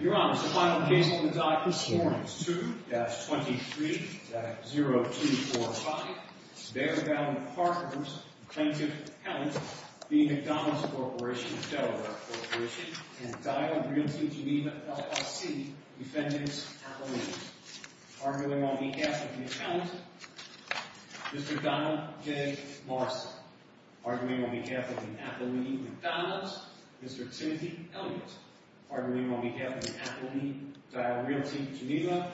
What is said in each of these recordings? Your Honor, the final case on the docket is Ordinance 2-23-0245. Bear Valley Partners, plaintiff, Helen, v. McDonald's Corp., Delaware Corp., and Dialed Realty Geneva LLC, defendants, Appalachians. Arguing on behalf of the accountant, Mr. Donald J. Morrison. Arguing on behalf of the Appalachian McDonald's, Mr. Timothy Elliott. Arguing on behalf of the Appalachian Dialed Realty Geneva,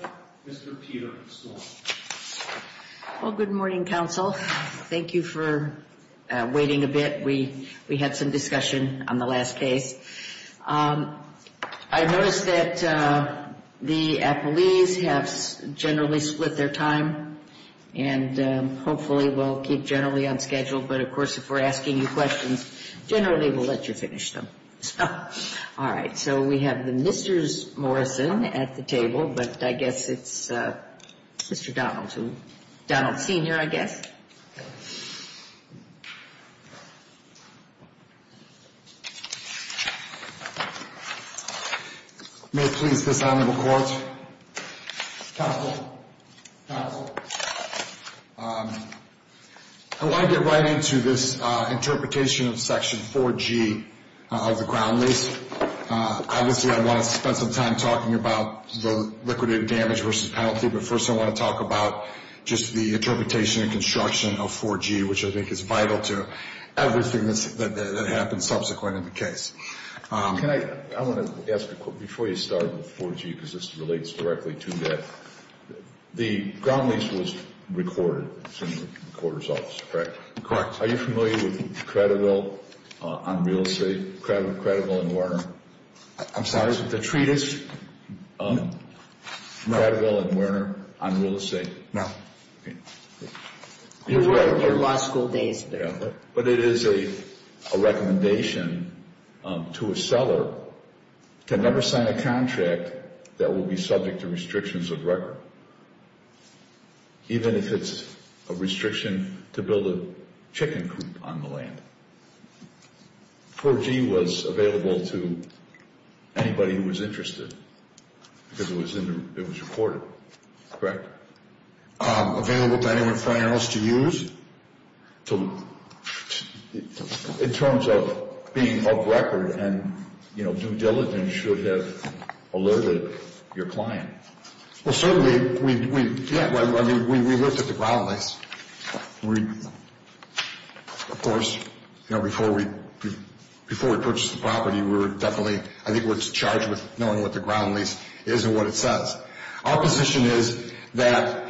Mr. Peter Sloan. All right, so we have the Mr. Morrison at the table, but I guess it's Mr. Donald, Donald Sr., I guess. May it please this Honorable Court, counsel, counsel. I want to get right into this interpretation of Section 4G of the ground lease. Obviously, I want to spend some time talking about the liquidated damage versus penalty, but first I want to talk about just the interpretation and construction of 4G, which I think is vital to everything that happens subsequent in the case. Can I, I want to ask a quick, before you start with 4G, because this relates directly to that, the ground lease was recorded, it's in the recorder's office, correct? Correct. Are you familiar with Cradiville on real estate, Cradiville and Werner? I'm sorry, is it the treatise? No. Cradiville and Werner on real estate? No. Your law school days there. But it is a recommendation to a seller to never sign a contract that will be subject to restrictions of record, even if it's a restriction to build a chicken coop on the land. 4G was available to anybody who was interested because it was recorded, correct? Available to anyone for anyone else to use in terms of being of record and due diligence should have alerted your client. Well, certainly, we looked at the ground lease. Of course, before we purchased the property, we were definitely, I think we were charged with knowing what the ground lease is and what it says. Our position is that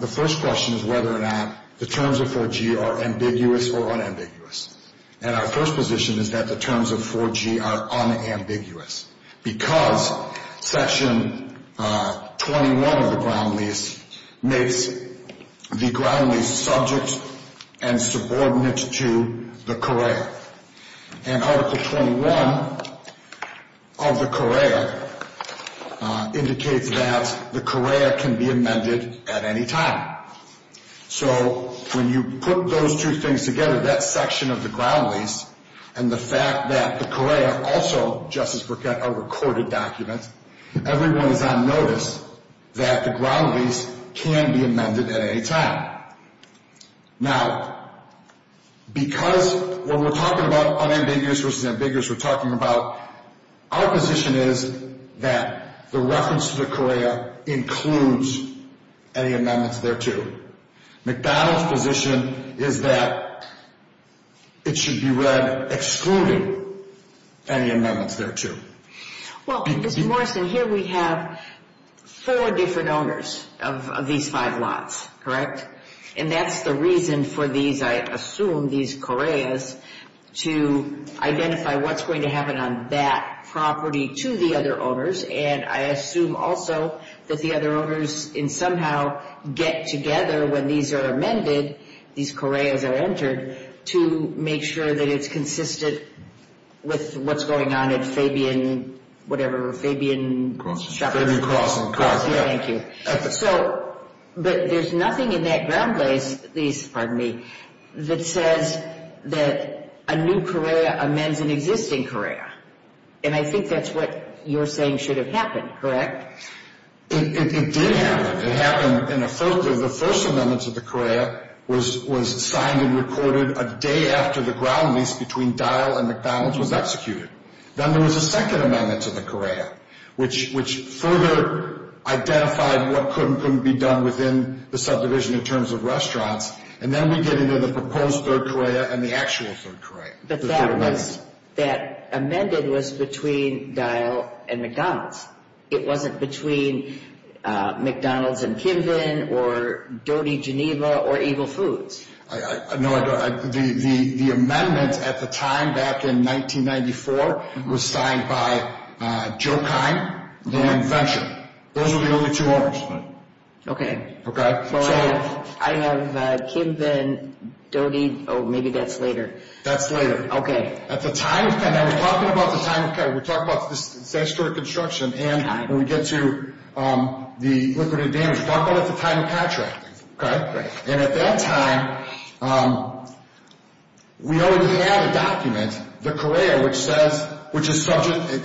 the first question is whether or not the terms of 4G are ambiguous or unambiguous. And our first position is that the terms of 4G are unambiguous because Section 21 of the ground lease makes the ground lease subject and subordinate to the courier. And Article 21 of the courier indicates that the courier can be amended at any time. So when you put those two things together, that section of the ground lease and the fact that the courier also, Justice Burkett, are recorded documents, everyone is on notice that the ground lease can be amended at any time. Now, because when we're talking about unambiguous versus ambiguous, we're talking about our position is that the reference to the courier includes any amendments thereto. McDonald's position is that it should be read excluding any amendments thereto. Well, Mr. Morrison, here we have four different owners of these five lots, correct? And that's the reason for these, I assume, these couriers, to identify what's going to happen on that property to the other owners. And I assume also that the other owners can somehow get together when these are amended, these couriers are entered, to make sure that it's consistent with what's going on at Fabian, whatever, Fabian Shoppers. Fabian Crossing. Fabian Crossing. Thank you. So, but there's nothing in that ground lease, pardon me, that says that a new courier amends an existing courier. And I think that's what you're saying should have happened, correct? It did happen. It happened in a first, the first amendment to the courier was signed and recorded a day after the ground lease between Dial and McDonald's was executed. Then there was a second amendment to the courier, which further identified what could and couldn't be done within the subdivision in terms of restaurants. And then we get into the proposed third courier and the actual third courier. But that was, that amended was between Dial and McDonald's. It wasn't between McDonald's and Kimbin or Doty Geneva or Eagle Foods. No, the amendment at the time, back in 1994, was signed by Joe Kine and Van Venture. Those were the only two owners. Okay. Okay. So I have Kimbin, Doty, oh, maybe that's later. That's later. Okay. At the time, and we're talking about the time, okay, we're talking about this historic construction. And when we get to the liquidated damage, we're talking about at the time of contract, okay? Right. And at that time, we already had a document, the courier, which says, which is subject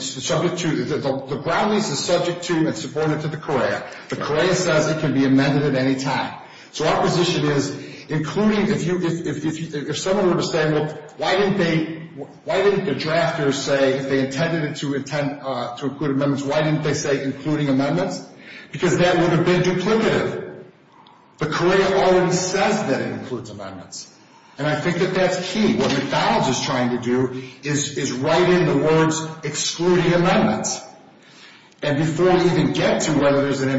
to, the ground lease is subject to and supported to the courier. The courier says it can be amended at any time. So our position is, including, if you, if someone were to say, well, why didn't they, why didn't the drafters say, if they intended to include amendments, why didn't they say including amendments? Because that would have been duplicative. The courier already says that it includes amendments. And I think that that's key. What McDonald's is trying to do is write in the words excluding amendments. And before we even get to whether there's an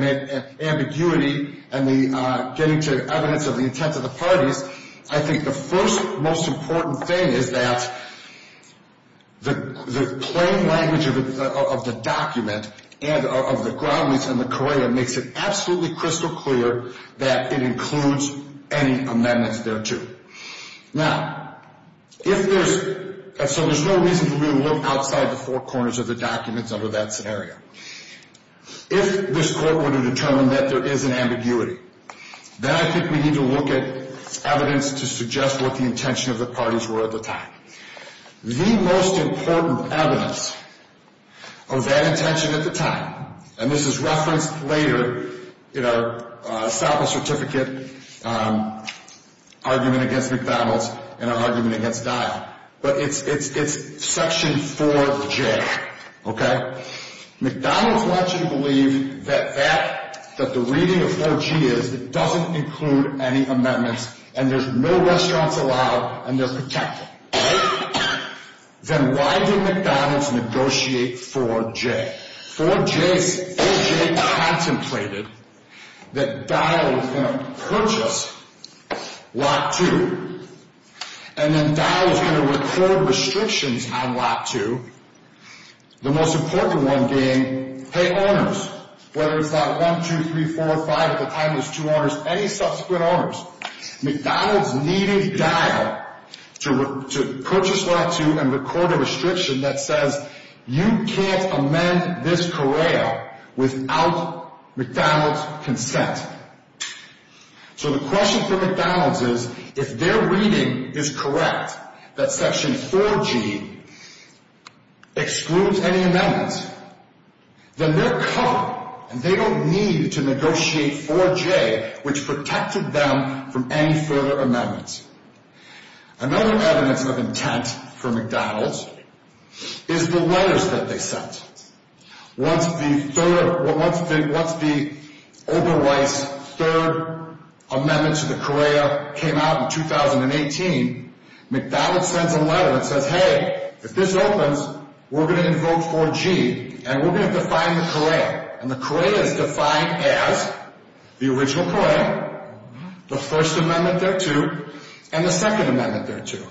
ambiguity and the getting to evidence of the intent of the parties, I think the first most important thing is that the plain language of the document and of the ground lease and the courier makes it absolutely crystal clear that it includes any amendments thereto. Now, if there's, so there's no reason to really look outside the four corners of the documents under that scenario. If this court were to determine that there is an ambiguity, then I think we need to look at evidence to suggest what the intention of the parties were at the time. The most important evidence of that intention at the time, and this is referenced later in our sample certificate argument against McDonald's and our argument against Dial, but it's section 4J. McDonald's wants you to believe that the reading of 4G is it doesn't include any amendments and there's no restaurants allowed and they're protected. Then why did McDonald's negotiate 4J? 4J contemplated that Dial was going to purchase Lot 2 and then Dial was going to record restrictions on Lot 2. The most important one being pay owners, whether it's Lot 1, 2, 3, 4, 5, at the time it was two owners, any subsequent owners. McDonald's needed Dial to purchase Lot 2 and record a restriction that says you can't amend this courier without McDonald's consent. So the question for McDonald's is if their reading is correct that section 4G excludes any amendments, then they're covered and they don't need to negotiate 4J, which protected them from any further amendments. Another evidence of intent for McDonald's is the letters that they sent. Once the Oberweiss third amendment to the COREA came out in 2018, McDonald's sends a letter that says, hey, if this opens, we're going to invoke 4G and we're going to define the COREA. And the COREA is defined as the original COREA, the first amendment thereto, and the second amendment thereto.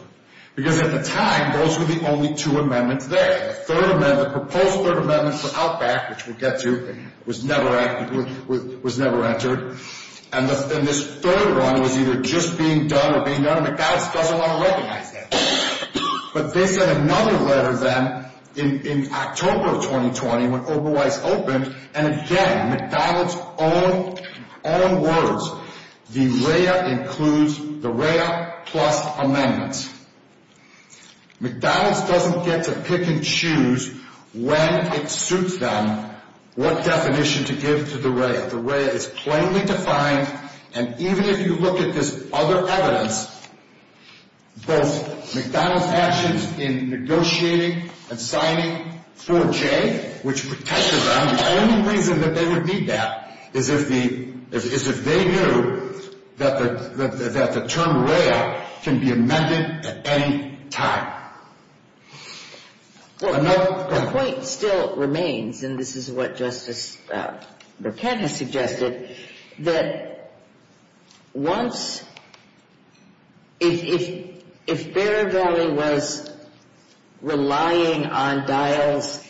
Because at the time, those were the only two amendments there. The third amendment, the proposed third amendment for Outback, which we'll get to, was never entered. And this third one was either just being done or being done, and McDonald's doesn't want to recognize that. But they sent another letter then in October of 2020 when Oberweiss opened. And again, McDonald's own words, the REA includes the REA plus amendments. McDonald's doesn't get to pick and choose when it suits them what definition to give to the REA. The REA is plainly defined. And even if you look at this other evidence, both McDonald's actions in negotiating and signing 4G, which protected them, the only reason that they would need that is if they knew that the term REA can be amended at any time. Well, the point still remains, and this is what Justice Burkett has suggested, that once, if Bear Valley was relying on Dial's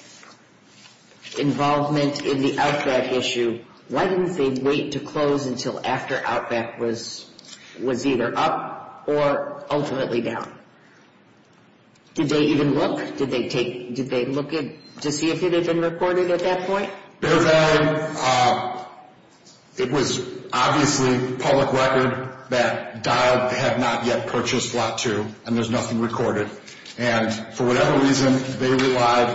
involvement in the Outback issue, why didn't they wait to close until after Outback was either up or ultimately down? Did they even look? Did they look to see if it had been recorded at that point? Bear Valley, it was obviously public record that Dial had not yet purchased Lot 2, and there's nothing recorded. And for whatever reason, they relied.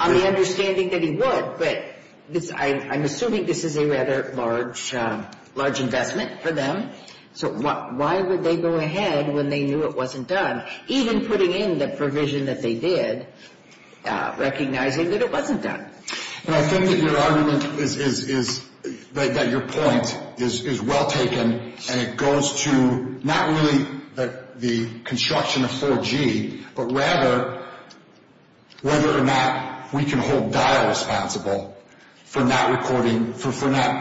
On the understanding that he would, but I'm assuming this is a rather large investment for them. So why would they go ahead when they knew it wasn't done, even putting in the provision that they did, recognizing that it wasn't done? And I think that your argument is that your point is well taken, and it goes to not really the construction of 4G, but rather whether or not we can hold Dial responsible for not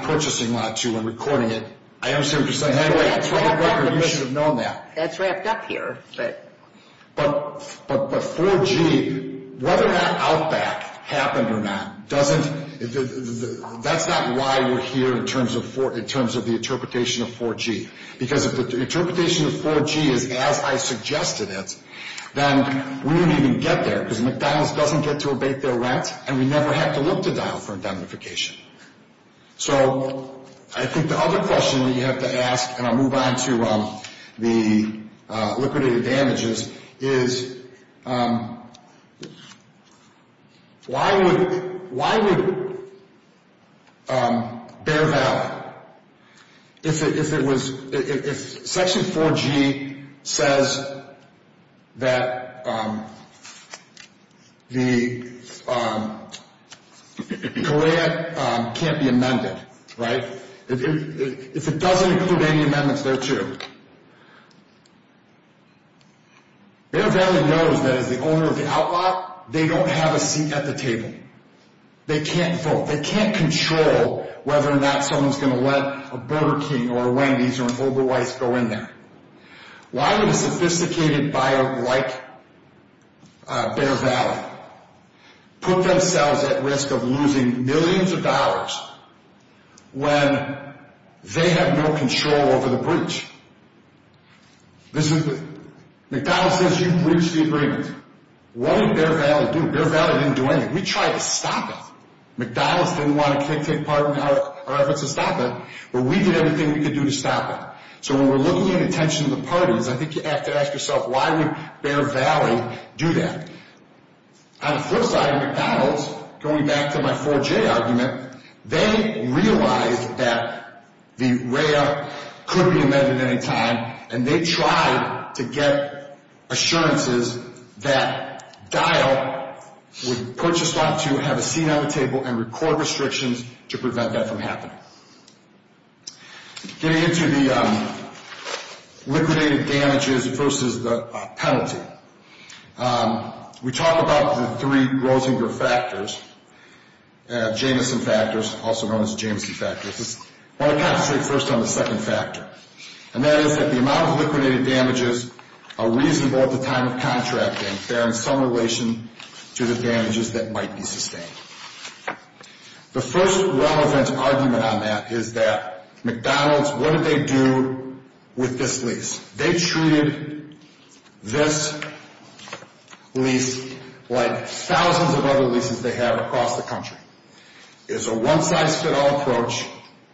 purchasing Lot 2 and recording it. I understand what you're saying. Anyway, you should have known that. That's wrapped up here. But 4G, whether or not Outback happened or not, that's not why we're here in terms of the interpretation of 4G. Because if the interpretation of 4G is as I suggested it, then we don't even get there, because McDonald's doesn't get to abate their rent, and we never have to look to Dial for indemnification. So I think the other question that you have to ask, and I'll move on to the liquidated damages, is why would Bear Val, if Section 4G says that the Kalea can't be amended, right? If it doesn't include any amendments there too, Bear Val knows that as the owner of the outlot, they don't have a seat at the table. They can't vote. They can't control whether or not someone's going to let a Burger King or a Wendy's or an Oberweiss go in there. Why would a sophisticated buyer like Bear Val put themselves at risk of losing millions of dollars when they have no control over the breach? McDonald's says you breached the agreement. What did Bear Val do? Bear Val didn't do anything. We tried to stop it. McDonald's didn't want to take part in our efforts to stop it, but we did everything we could do to stop it. So when we're looking at the intentions of the parties, I think you have to ask yourself, why would Bear Val do that? On the flip side of McDonald's, going back to my 4G argument, they realized that the RAIA could be amended at any time, and they tried to get assurances that Dial would put yourself to have a seat at the table and record restrictions to prevent that from happening. Getting into the liquidated damages versus the penalty, we talk about the three Grosinger factors, Jameson factors, also known as Jameson factors. I want to concentrate first on the second factor, and that is that the amount of liquidated damages are reasonable at the time of contracting. They're in some relation to the damages that might be sustained. The first relevant argument on that is that McDonald's, what did they do with this lease? They treated this lease like thousands of other leases they have across the country. It's a one-size-fits-all approach.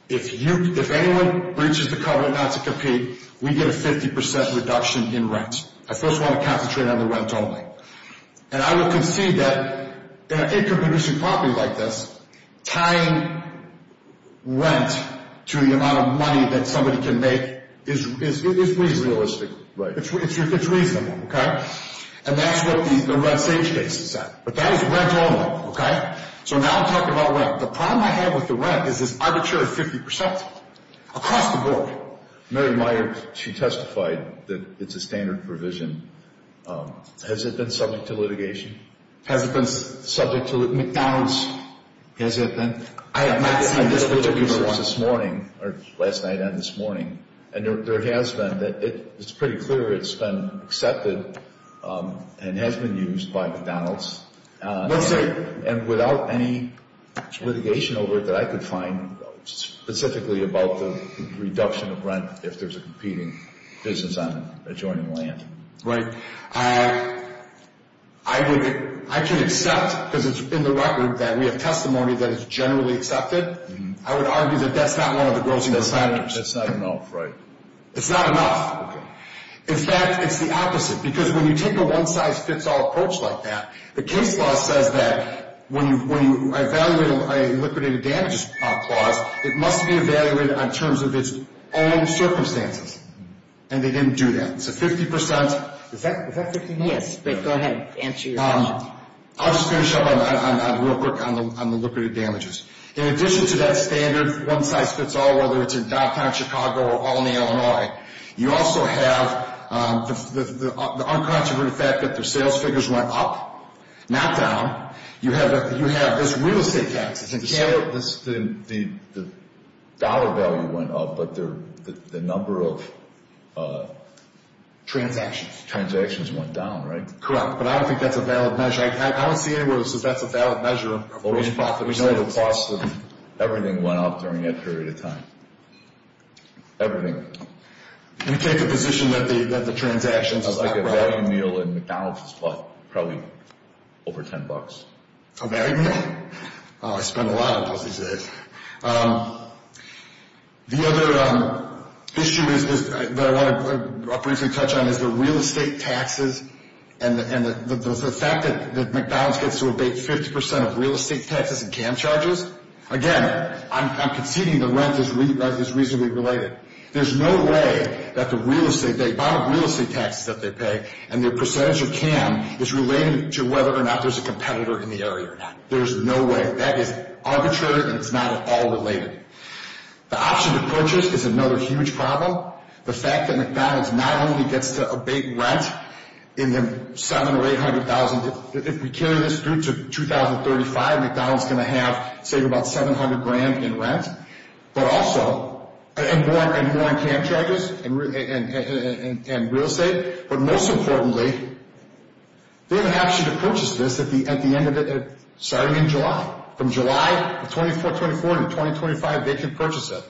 If anyone breaches the covenant not to compete, we get a 50% reduction in rent. I first want to concentrate on the rent only. And I would concede that in an income-inducing property like this, tying rent to the amount of money that somebody can make is reasonable. It's reasonable, okay? And that's what the Red Sage case is at. But that is rent only, okay? So now I'm talking about rent. The problem I have with the rent is this arbitrary 50% across the board. Mary Meyer, she testified that it's a standard provision. Has it been subject to litigation? Has it been subject to litigation? McDonald's. Has it been? I interviewed her this morning, or last night and this morning, and there has been. It's pretty clear it's been accepted and has been used by McDonald's. Yes, sir. And without any litigation over it that I could find specifically about the reduction of rent if there's a competing business on adjoining land. Right. I can accept, because it's in the record that we have testimony that it's generally accepted. I would argue that that's not one of the grossing incentives. That's not enough, right? It's not enough. Okay. In fact, it's the opposite. Because when you take a one-size-fits-all approach like that, the case law says that when you evaluate a liquidated damages clause, it must be evaluated in terms of its own circumstances. And they didn't do that. So 50%… Is that 50%? Yes, but go ahead and answer your question. I'll just finish up real quick on the liquidated damages. In addition to that standard one-size-fits-all, whether it's in downtown Chicago or Albany, Illinois, you also have the uncontroverted fact that their sales figures went up, not down. You have this real estate taxes. The dollar value went up, but the number of… Transactions. Transactions went down, right? Correct. But I don't think that's a valid measure. I don't see anywhere that says that's a valid measure. We know the cost of everything went up during that period of time. Everything. You take a position that the transactions… It's like a value meal in McDonald's is probably over $10. A value meal? I spend a lot of money these days. The other issue that I want to briefly touch on is the real estate taxes and the fact that McDonald's gets to abate 50% of real estate taxes and cam charges. Again, I'm conceding the rent is reasonably related. There's no way that the real estate… The amount of real estate taxes that they pay and their percentage of cam is related to whether or not there's a competitor in the area or not. There's no way. That is arbitrary and it's not at all related. The option to purchase is another huge problem. The fact that McDonald's not only gets to abate rent in the $700,000 or $800,000… If we carry this through to 2035, McDonald's is going to save about $700,000 in rent and more in cam charges and real estate. But most importantly, they have an option to purchase this starting in July. From July of 2024 to 2025, they can purchase it.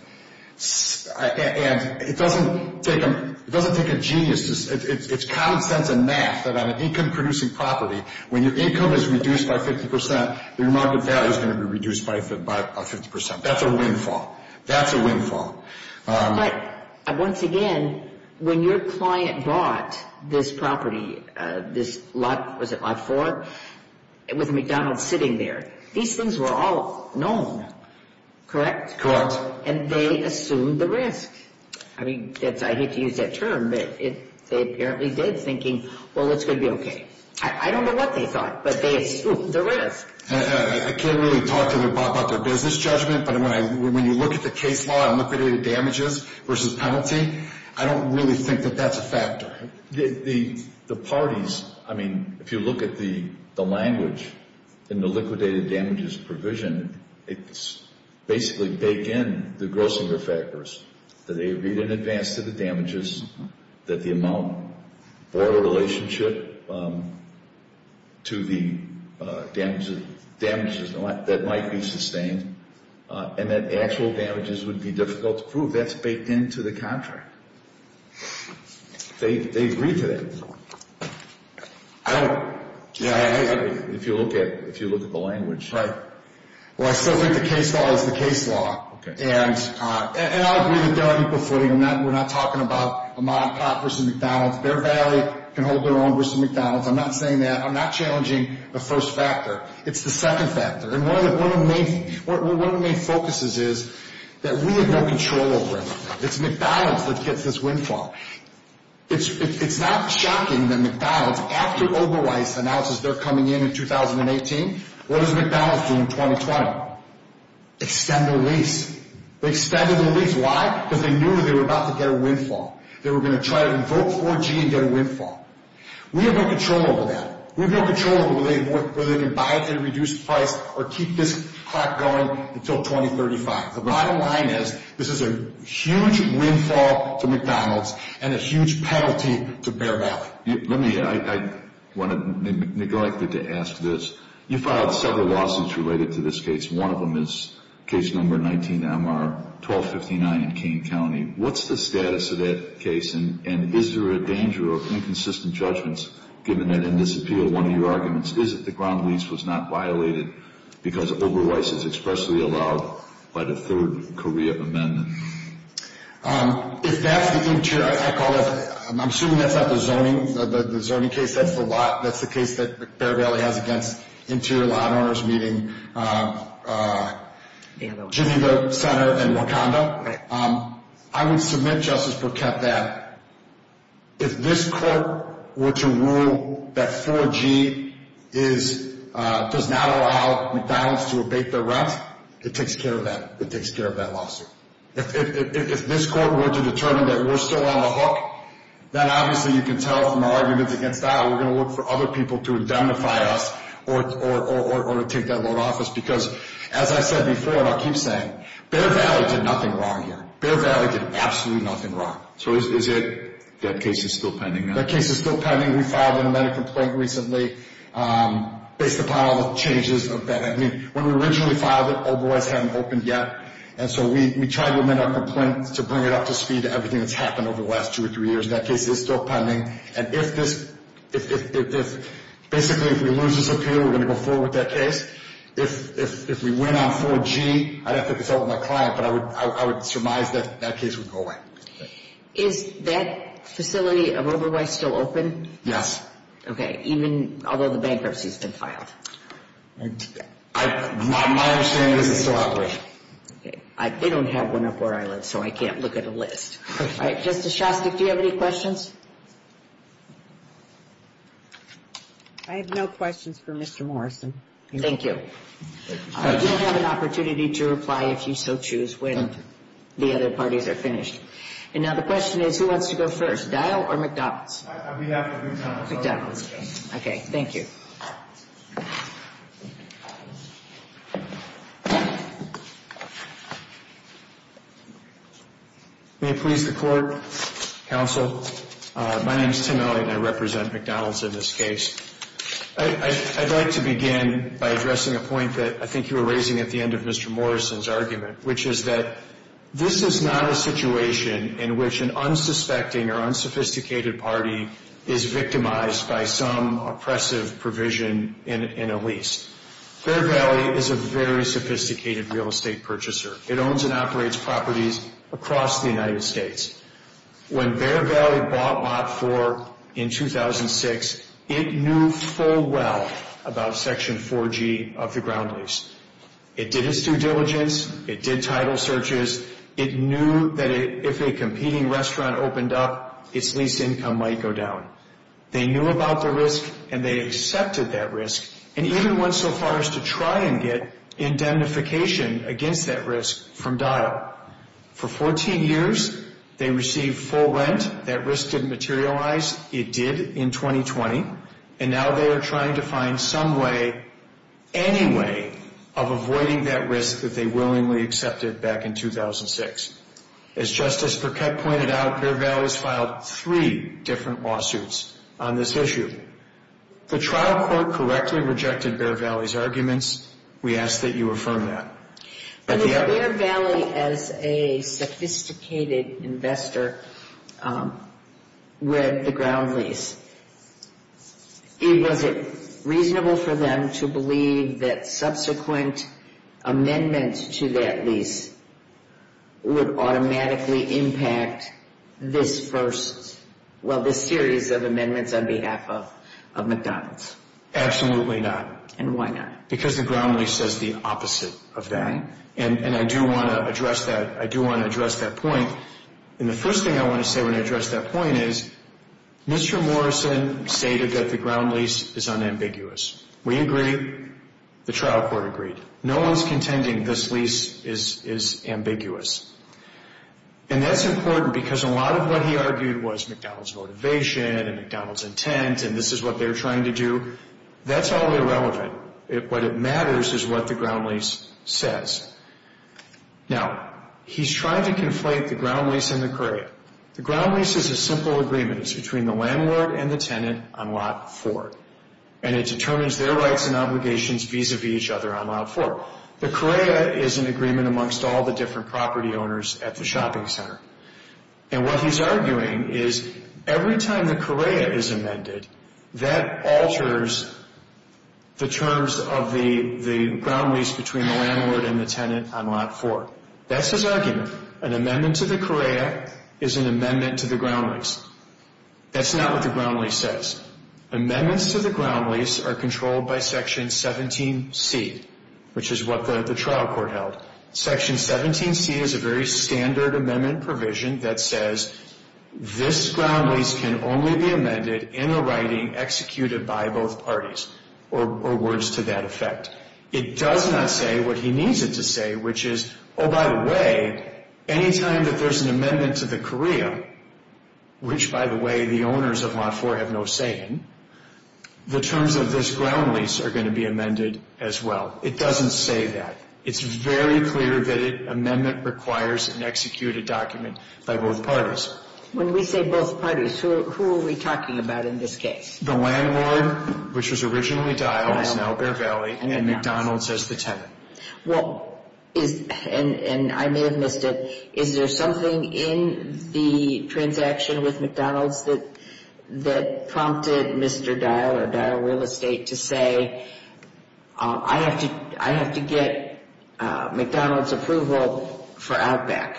It doesn't take a genius. It's common sense and math that on an income-producing property, when your income is reduced by 50%, your market value is going to be reduced by 50%. That's a windfall. That's a windfall. But once again, when your client bought this property, this lot, was it lot 4, with McDonald's sitting there, these things were all known, correct? Correct. And they assumed the risk. I hate to use that term, but they apparently did, thinking, well, it's going to be okay. I don't know what they thought, but they assumed the risk. I can't really talk about their business judgment, but when you look at the case law on liquidated damages versus penalty, I don't really think that that's a factor. The parties, I mean, if you look at the language in the liquidated damages provision, it's basically baked in the grossing factors, that they agreed in advance to the damages, that the amount brought a relationship to the damages that might be sustained, and that actual damages would be difficult to prove. That's baked into the contract. They agreed to that. I don't, if you look at the language. Right. Well, I still think the case law is the case law. Okay. And I agree that they're on equal footing. We're not talking about a mod pot versus McDonald's. Bear Valley can hold their own versus McDonald's. I'm not saying that. I'm not challenging the first factor. It's the second factor. And one of the main focuses is that we have no control over it. It's McDonald's that gets this windfall. It's not shocking that McDonald's, after Oberweiss announces they're coming in in 2018, what does McDonald's do in 2020? Extend their lease. They extended their lease. Why? Because they knew they were about to get a windfall. They were going to try to invoke 4G and get a windfall. We have no control over that. We have no control over whether they can buy it at a reduced price or keep this clock going until 2035. The bottom line is this is a huge windfall to McDonald's and a huge penalty to Bear Valley. Let me – I want to – neglected to ask this. You filed several lawsuits related to this case. One of them is case number 19-MR-1259 in Kane County. What's the status of that case? And is there a danger of inconsistent judgments given that in this appeal one of your arguments is that the ground lease was not violated because Oberweiss is expressly allowed by the third Korea amendment? If that's the interior – I call it – I'm assuming that's not the zoning – the zoning case. That's the lot – that's the case that Bear Valley has against interior lot owners, meaning Geneva Center and Wakanda. I would submit, Justice Burkett, that if this court were to rule that 4G is – does not allow McDonald's to abate their rent, it takes care of that. It takes care of that lawsuit. If this court were to determine that we're still on the hook, then obviously you can tell from our arguments against that we're going to look for other people to indemnify us or to take that loan off us because, as I said before and I'll keep saying, Bear Valley did nothing wrong here. Bear Valley did absolutely nothing wrong. So is it – that case is still pending now? That case is still pending. We filed an amended complaint recently based upon all the changes of that. I mean, when we originally filed it, Oberweiss hadn't opened yet. And so we tried to amend our complaint to bring it up to speed to everything that's happened over the last two or three years. That case is still pending. And if this – basically, if we lose this appeal, we're going to go forward with that case. If we win on 4G, I'd have to consult with my client, but I would surmise that that case would go away. Is that facility of Oberweiss still open? Yes. Okay. Even – although the bankruptcy has been filed. My understanding is it's still operational. Okay. They don't have one up where I live, so I can't look at a list. All right. Justice Shostak, do you have any questions? I have no questions for Mr. Morrison. Thank you. You'll have an opportunity to reply if you so choose when the other parties are finished. And now the question is, who wants to go first, Dial or McDonald's? We have McDonald's. McDonald's. Okay. Thank you. May it please the Court, Counsel, my name is Tim Elliott, and I represent McDonald's in this case. I'd like to begin by addressing a point that I think you were raising at the end of Mr. Morrison's argument, which is that this is not a situation in which an unsuspecting or unsophisticated party is victimized by some oppressive provision in a lease. Bear Valley is a very sophisticated real estate purchaser. It owns and operates properties across the United States. When Bear Valley bought Lot 4 in 2006, it knew full well about Section 4G of the ground lease. It did its due diligence. It did title searches. It knew that if a competing restaurant opened up, its lease income might go down. They knew about the risk, and they accepted that risk, and even went so far as to try and get indemnification against that risk from Dial. For 14 years, they received full rent. That risk didn't materialize. It did in 2020, and now they are trying to find some way, any way, of avoiding that risk that they willingly accepted back in 2006. As Justice Burkett pointed out, Bear Valley has filed three different lawsuits on this issue. The trial court correctly rejected Bear Valley's arguments. We ask that you affirm that. When Bear Valley, as a sophisticated investor, read the ground lease, was it reasonable for them to believe that subsequent amendments to that lease would automatically impact this first, well, this series of amendments on behalf of McDonald's? Absolutely not. And why not? Because the ground lease says the opposite of that, and I do want to address that point. And the first thing I want to say when I address that point is Mr. Morrison stated that the ground lease is unambiguous. We agree. The trial court agreed. No one's contending this lease is ambiguous. And that's important because a lot of what he argued was McDonald's motivation and McDonald's intent, and this is what they're trying to do. That's all irrelevant. What matters is what the ground lease says. Now, he's trying to conflate the ground lease and the COREA. The ground lease is a simple agreement. It's between the landlord and the tenant on lot four, and it determines their rights and obligations vis-a-vis each other on lot four. The COREA is an agreement amongst all the different property owners at the shopping center. And what he's arguing is every time the COREA is amended, that alters the terms of the ground lease between the landlord and the tenant on lot four. That's his argument. An amendment to the COREA is an amendment to the ground lease. That's not what the ground lease says. Amendments to the ground lease are controlled by Section 17C, which is what the trial court held. Section 17C is a very standard amendment provision that says, this ground lease can only be amended in a writing executed by both parties, or words to that effect. It does not say what he needs it to say, which is, oh, by the way, any time that there's an amendment to the COREA, which, by the way, the owners of lot four have no say in, the terms of this ground lease are going to be amended as well. It doesn't say that. It's very clear that an amendment requires an executed document by both parties. When we say both parties, who are we talking about in this case? The landlord, which was originally Dial, is now Bear Valley, and McDonald's as the tenant. Well, and I may have missed it, is there something in the transaction with McDonald's that prompted Mr. Dial or Dial Real Estate to say, I have to get McDonald's approval for outback.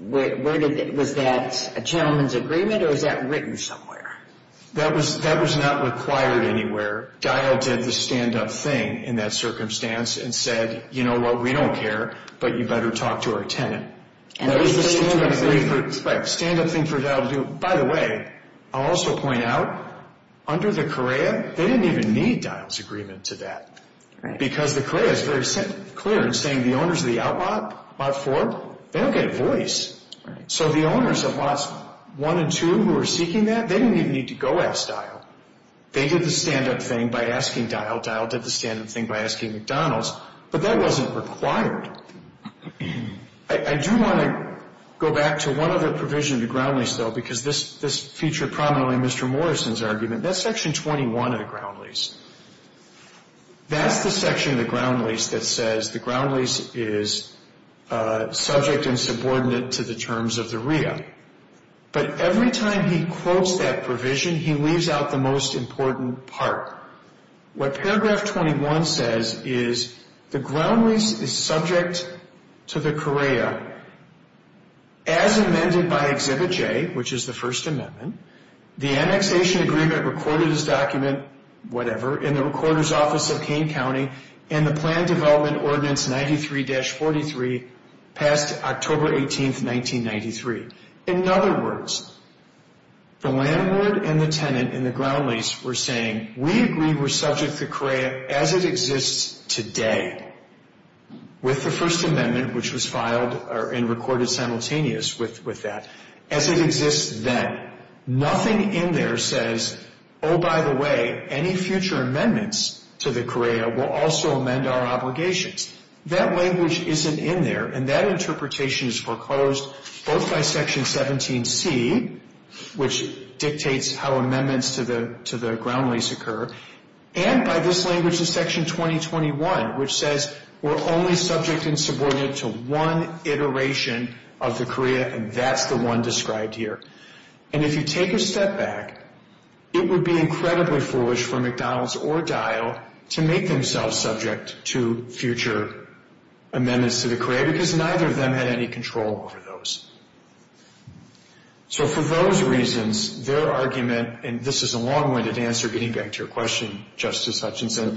Was that a gentleman's agreement, or was that written somewhere? That was not required anywhere. Dial did the stand-up thing in that circumstance and said, you know what, we don't care, but you better talk to our tenant. And it was the stand-up thing? Right, stand-up thing for Dial to do. By the way, I'll also point out, under the CREA, they didn't even need Dial's agreement to that, because the CREA is very clear in saying the owners of lot four, they don't get a voice. So the owners of lots one and two who are seeking that, they didn't even need to go ask Dial. They did the stand-up thing by asking Dial. Dial did the stand-up thing by asking McDonald's, but that wasn't required. I do want to go back to one other provision of the ground lease, though, because this featured prominently in Mr. Morrison's argument. That's section 21 of the ground lease. That's the section of the ground lease that says the ground lease is subject and subordinate to the terms of the CREA. But every time he quotes that provision, he leaves out the most important part. What paragraph 21 says is the ground lease is subject to the CREA as amended by Exhibit J, which is the First Amendment. The annexation agreement recorded as document, whatever, in the recorder's office of Kane County, and the plan development ordinance 93-43 passed October 18, 1993. In other words, the landlord and the tenant in the ground lease were saying, we agree we're subject to CREA as it exists today with the First Amendment, which was filed and recorded simultaneous with that, as it exists then. Nothing in there says, oh, by the way, any future amendments to the CREA will also amend our obligations. That language isn't in there, and that interpretation is foreclosed both by section 17C, which dictates how amendments to the ground lease occur, and by this language in section 2021, which says we're only subject and subordinate to one iteration of the CREA, and that's the one described here. And if you take a step back, it would be incredibly foolish for McDonald's or Dial to make themselves subject to future amendments to the CREA, because neither of them had any control over those. So for those reasons, their argument, and this is a long-winded answer getting back to your question, Justice Hutchinson,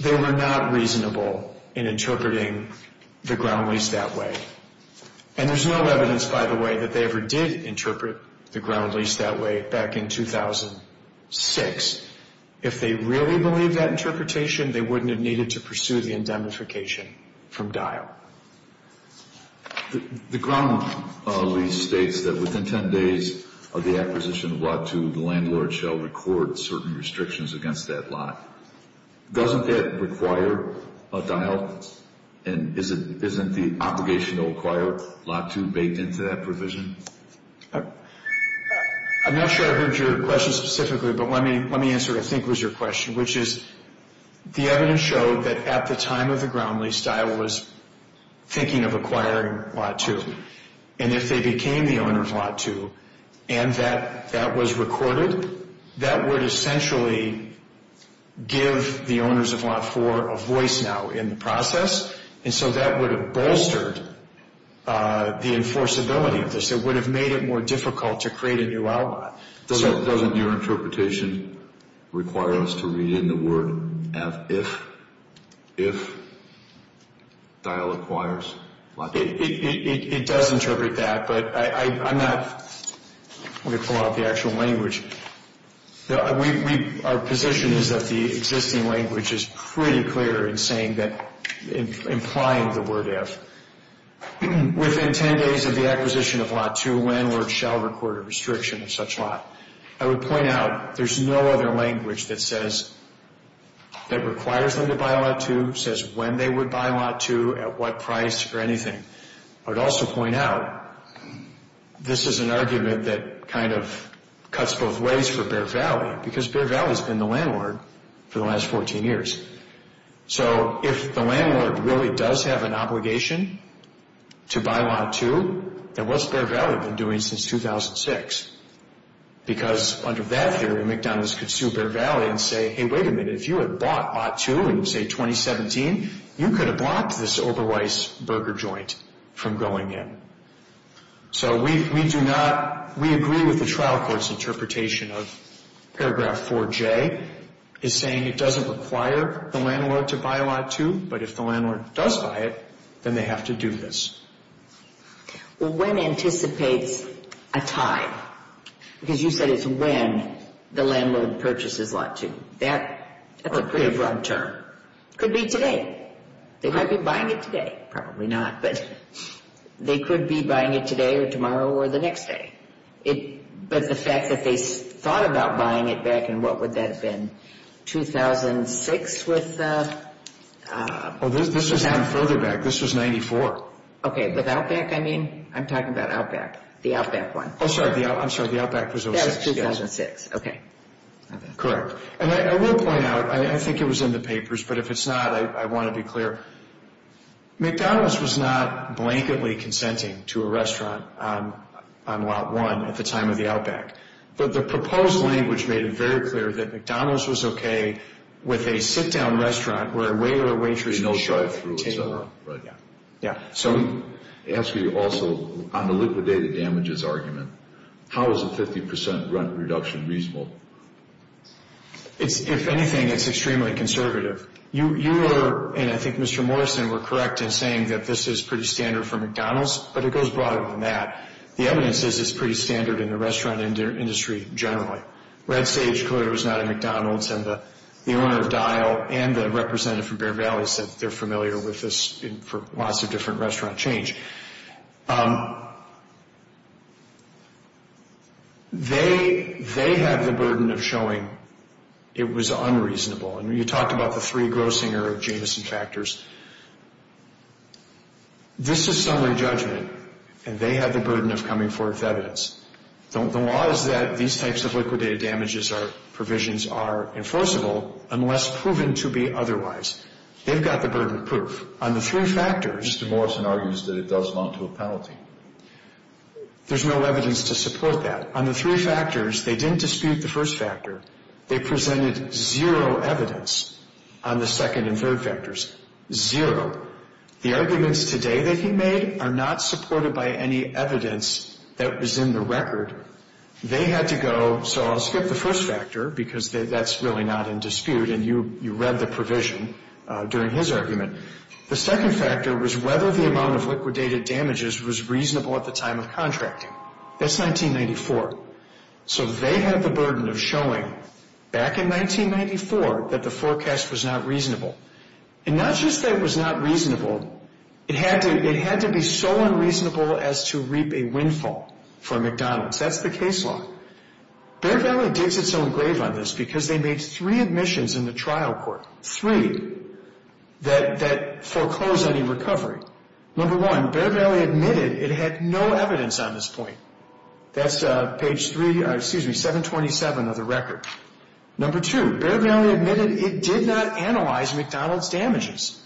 they were not reasonable in interpreting the ground lease that way. And there's no evidence, by the way, that they ever did interpret the ground lease that way back in 2006. If they really believed that interpretation, they wouldn't have needed to pursue the indemnification from Dial. The ground lease states that within 10 days of the acquisition of Lot 2, the landlord shall record certain restrictions against that lot. Doesn't it require a Dial? And isn't the obligation to acquire Lot 2 baked into that provision? I'm not sure I heard your question specifically, but let me answer what I think was your question, which is the evidence showed that at the time of the ground lease, Dial was thinking of acquiring Lot 2. And if they became the owner of Lot 2 and that was recorded, that would essentially give the owners of Lot 4 a voice now in the process. And so that would have bolstered the enforceability of this. It would have made it more difficult to create a new outlaw. Doesn't your interpretation require us to read in the word, if Dial acquires Lot 2? It does interpret that, but I'm not going to pull out the actual language. Our position is that the existing language is pretty clear in saying that, implying the word, if. Within 10 days of the acquisition of Lot 2, landlord shall record a restriction of such lot. I would point out there's no other language that says, that requires them to buy Lot 2, says when they would buy Lot 2, at what price, or anything. I would also point out, this is an argument that kind of cuts both ways for Bear Valley, because Bear Valley has been the landlord for the last 14 years. So if the landlord really does have an obligation to buy Lot 2, then what's Bear Valley been doing since 2006? Because under that theory, McDonald's could sue Bear Valley and say, hey, wait a minute, if you had bought Lot 2 in, say, 2017, you could have blocked this Oberweiss burger joint from going in. So we do not, we agree with the trial court's interpretation of paragraph 4J, is saying it doesn't require the landlord to buy Lot 2, but if the landlord does buy it, then they have to do this. Well, when anticipates a time? Because you said it's when the landlord purchases Lot 2. That's a pretty broad term. Could be today. They might be buying it today. Probably not, but they could be buying it today or tomorrow or the next day. But the fact that they thought about buying it back in, what would that have been? 2006 with... Oh, this was further back. This was 94. Okay, with Outback, I mean? I'm talking about Outback, the Outback one. Oh, sorry, I'm sorry, the Outback was 06. That was 2006, okay. Correct. And I will point out, I think it was in the papers, but if it's not, I want to be clear. McDonald's was not blanketly consenting to a restaurant on Lot 1 at the time of the Outback. But the proposed language made it very clear that McDonald's was okay with a sit-down restaurant where a waiter or waitress... Can I ask you also, on the liquidated damages argument, how is a 50% rent reduction reasonable? If anything, it's extremely conservative. You are, and I think Mr. Morrison were correct in saying that this is pretty standard for McDonald's, but it goes broader than that. The evidence is it's pretty standard in the restaurant industry generally. Red Sage, clearly, was not at McDonald's, and the owner of Dial and the representative from Bear Valley said they're familiar with this for lots of different restaurant change. They had the burden of showing it was unreasonable. And you talked about the three grossing or adjacency factors. This is summary judgment, and they had the burden of coming forth evidence. The law is that these types of liquidated damages provisions are enforceable unless proven to be otherwise. They've got the burden of proof. On the three factors... Mr. Morrison argues that it does amount to a penalty. There's no evidence to support that. On the three factors, they didn't dispute the first factor. They presented zero evidence on the second and third factors. Zero. The arguments today that he made are not supported by any evidence that was in the record. They had to go... So I'll skip the first factor because that's really not in dispute, and you read the provision during his argument. The second factor was whether the amount of liquidated damages was reasonable at the time of contracting. That's 1994. So they had the burden of showing, back in 1994, that the forecast was not reasonable. And not just that it was not reasonable. It had to be so unreasonable as to reap a windfall for McDonald's. That's the case law. Bear Valley digs its own grave on this because they made three admissions in the trial court. Three that foreclosed any recovery. Number one, Bear Valley admitted it had no evidence on this point. That's page 3... Excuse me, 727 of the record. Number two, Bear Valley admitted it did not analyze McDonald's damages.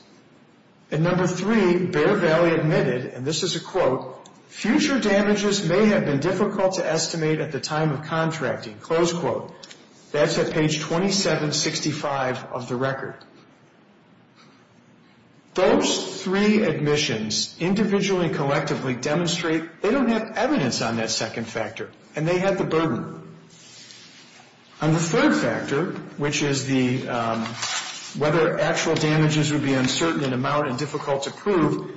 And number three, Bear Valley admitted, and this is a quote, future damages may have been difficult to estimate at the time of contracting. Close quote. That's at page 2765 of the record. Those three admissions individually and collectively demonstrate they don't have evidence on that second factor. And they had the burden. On the third factor, which is whether actual damages would be uncertain in amount and difficult to prove,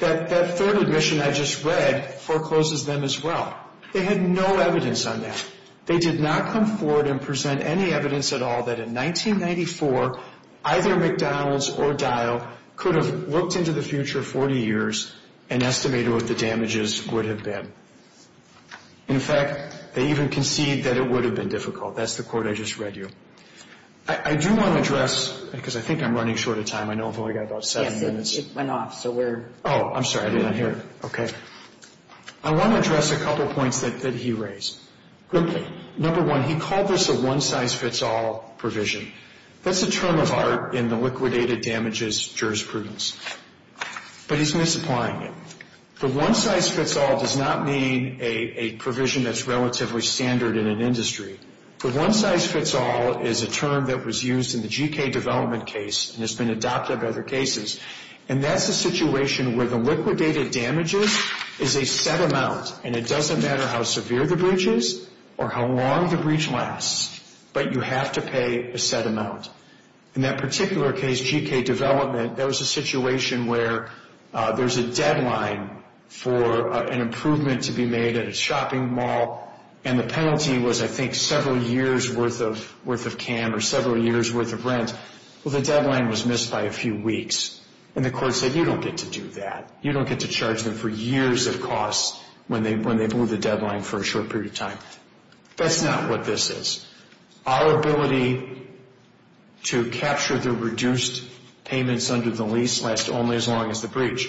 that third admission I just read forecloses them as well. They had no evidence on that. They did not come forward and present any evidence at all that in 1994, either McDonald's or Dial could have looked into the future 40 years and estimated what the damages would have been. In fact, they even conceded that it would have been difficult. That's the quote I just read you. I do want to address, because I think I'm running short of time. I know I've only got about seven minutes. Yes, it went off, so we're... Oh, I'm sorry. I didn't hear it. Okay. I want to address a couple points that he raised. Okay. Number one, he called this a one-size-fits-all provision. That's a term of art in the liquidated damages jurisprudence. But he's misapplying it. The one-size-fits-all does not mean a provision that's relatively standard in an industry. The one-size-fits-all is a term that was used in the GK development case and has been adopted by other cases, and that's a situation where the liquidated damages is a set amount, and it doesn't matter how severe the breach is or how long the breach lasts, but you have to pay a set amount. In that particular case, GK development, there was a situation where there's a deadline for an improvement to be made at a shopping mall, and the penalty was, I think, several years' worth of CAM or several years' worth of rent. Well, the deadline was missed by a few weeks, and the court said, You don't get to do that. You don't get to charge them for years of costs when they blew the deadline for a short period of time. That's not what this is. Our ability to capture the reduced payments under the lease lasts only as long as the breach,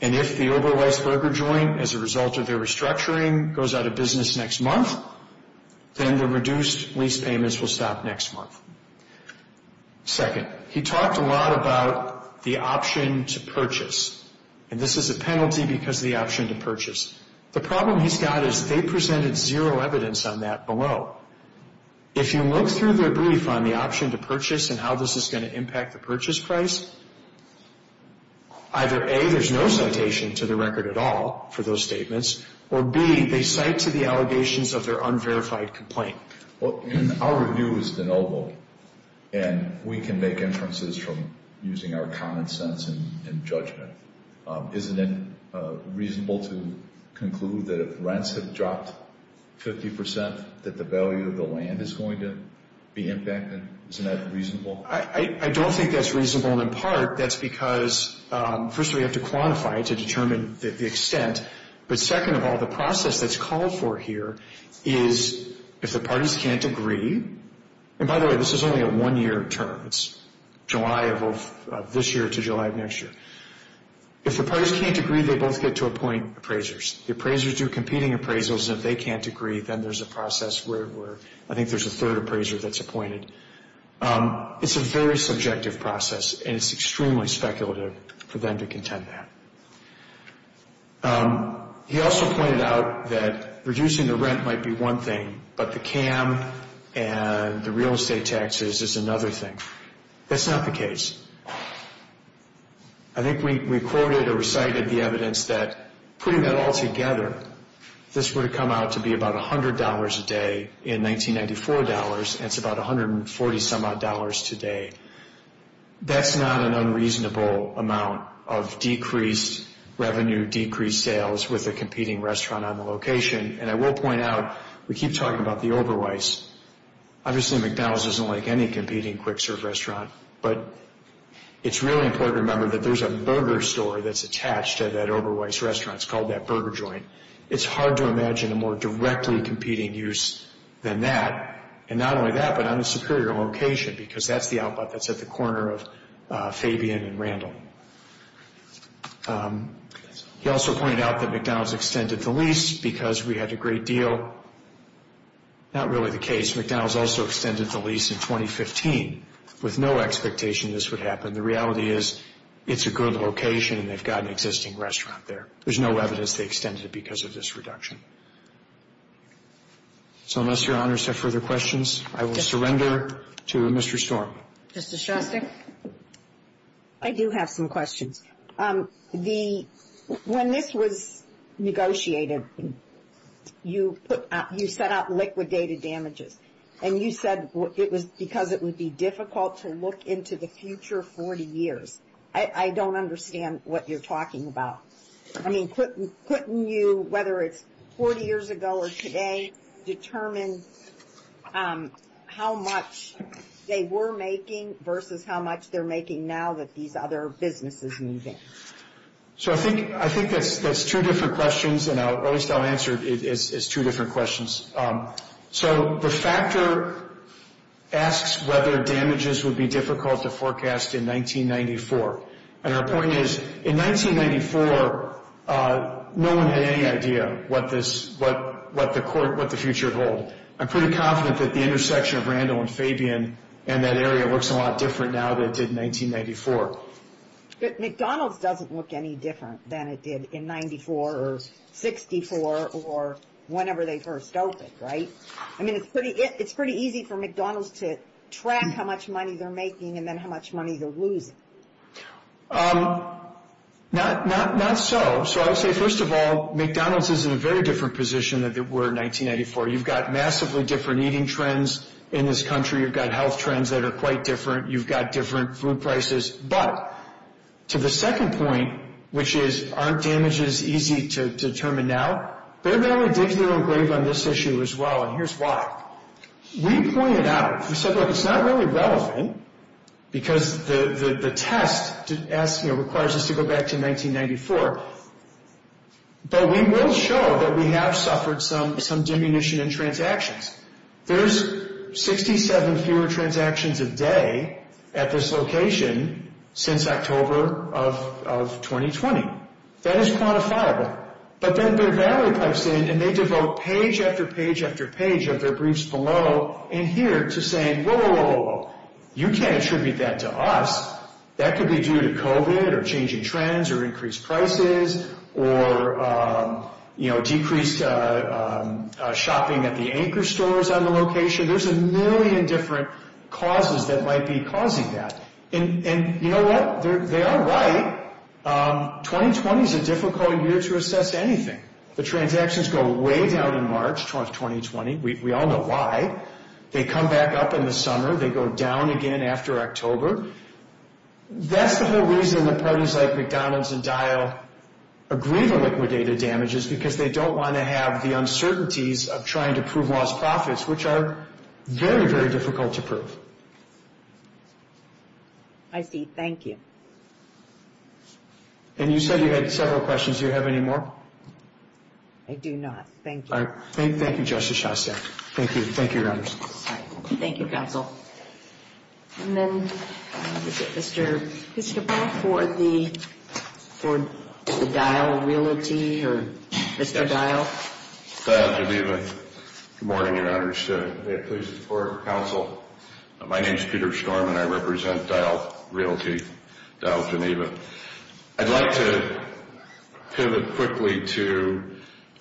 and if the over-licensed broker joint, as a result of their restructuring, goes out of business next month, then the reduced lease payments will stop next month. Second, he talked a lot about the option to purchase, and this is a penalty because of the option to purchase. The problem he's got is they presented zero evidence on that below. If you look through their brief on the option to purchase and how this is going to impact the purchase price, either, A, there's no citation to the record at all for those statements, or, B, they cite to the allegations of their unverified complaint. Well, our review is de novo, and we can make inferences from using our common sense and judgment. Isn't it reasonable to conclude that if rents have dropped 50% that the value of the land is going to be impacted? Isn't that reasonable? I don't think that's reasonable, and in part that's because, first of all, you have to quantify it to determine the extent, but second of all, the process that's called for here is if the parties can't agree, and by the way, this is only a one-year term. It's July of this year to July of next year. If the parties can't agree, they both get to appoint appraisers. The appraisers do competing appraisals, and if they can't agree, then there's a process where I think there's a third appraiser that's appointed. It's a very subjective process, and it's extremely speculative for them to contend that. He also pointed out that reducing the rent might be one thing, but the CAM and the real estate taxes is another thing. That's not the case. I think we quoted or recited the evidence that putting that all together, this would have come out to be about $100 a day in 1994 dollars, and it's about $140 some odd dollars today. That's not an unreasonable amount of decreased revenue, decreased sales with a competing restaurant on the location, and I will point out we keep talking about the Oberweiss. Obviously, McDonald's isn't like any competing quick-serve restaurant, but it's really important to remember that there's a burger store that's attached to that Oberweiss restaurant. It's called that burger joint. It's hard to imagine a more directly competing use than that, and not only that, but on a superior location because that's the outlet that's at the corner of Fabian and Randall. He also pointed out that McDonald's extended the lease because we had a great deal. Not really the case. McDonald's also extended the lease in 2015 with no expectation this would happen. The reality is it's a good location, and they've got an existing restaurant there. There's no evidence they extended it because of this reduction. So unless Your Honors have further questions, I will surrender to Mr. Storm. Justice Shostak? I do have some questions. When this was negotiated, you set out liquidated damages, and you said it was because it would be difficult to look into the future 40 years. I don't understand what you're talking about. Couldn't you, whether it's 40 years ago or today, determine how much they were making versus how much they're making now that these other businesses move in? I think that's two different questions, and at least I'll answer it as two different questions. The factor asks whether damages would be difficult to forecast in 1994. And our point is, in 1994, no one had any idea what the future would hold. I'm pretty confident that the intersection of Randall and Fabian and that area looks a lot different now than it did in 1994. But McDonald's doesn't look any different than it did in 94 or 64 or whenever they first opened, right? I mean, it's pretty easy for McDonald's to track how much money they're making and then how much money they're losing. Not so. So I would say, first of all, McDonald's is in a very different position than it were in 1994. You've got massively different eating trends in this country. You've got health trends that are quite different. You've got different food prices. But to the second point, which is, aren't damages easy to determine now? Bear Valley digs their own grave on this issue as well, and here's why. We pointed out, we said, look, it's not really relevant because the test requires us to go back to 1994. But we will show that we have suffered some diminution in transactions. There's 67 fewer transactions a day at this location since October of 2020. That is quantifiable. But then Bear Valley pipes in and they devote page after page after page of their briefs below and here to saying, whoa, whoa, whoa, whoa. You can't attribute that to us. That could be due to COVID or changing trends or increased prices or, you know, decreased shopping at the anchor stores on the location. There's a million different causes that might be causing that. And you know what? They are right. 2020 is a difficult year to assess anything. The transactions go way down in March of 2020. We all know why. They come back up in the summer. They go down again after October. That's the whole reason that parties like McDonald's and Dial agree to liquidated damages, because they don't want to have the uncertainties of trying to prove lost profits, which are very, very difficult to prove. I see. Thank you. And you said you had several questions. Do you have any more? I do not. Thank you. Thank you, Justice Shastek. Thank you. Thank you. Thank you, counsel. And then, Mr. Christopher, for the Dial realty or Mr. Dial. Dial Geneva. Good morning, your honors. May it please the court, counsel. My name is Peter Storm, and I represent Dial Realty, Dial Geneva. I'd like to pivot quickly to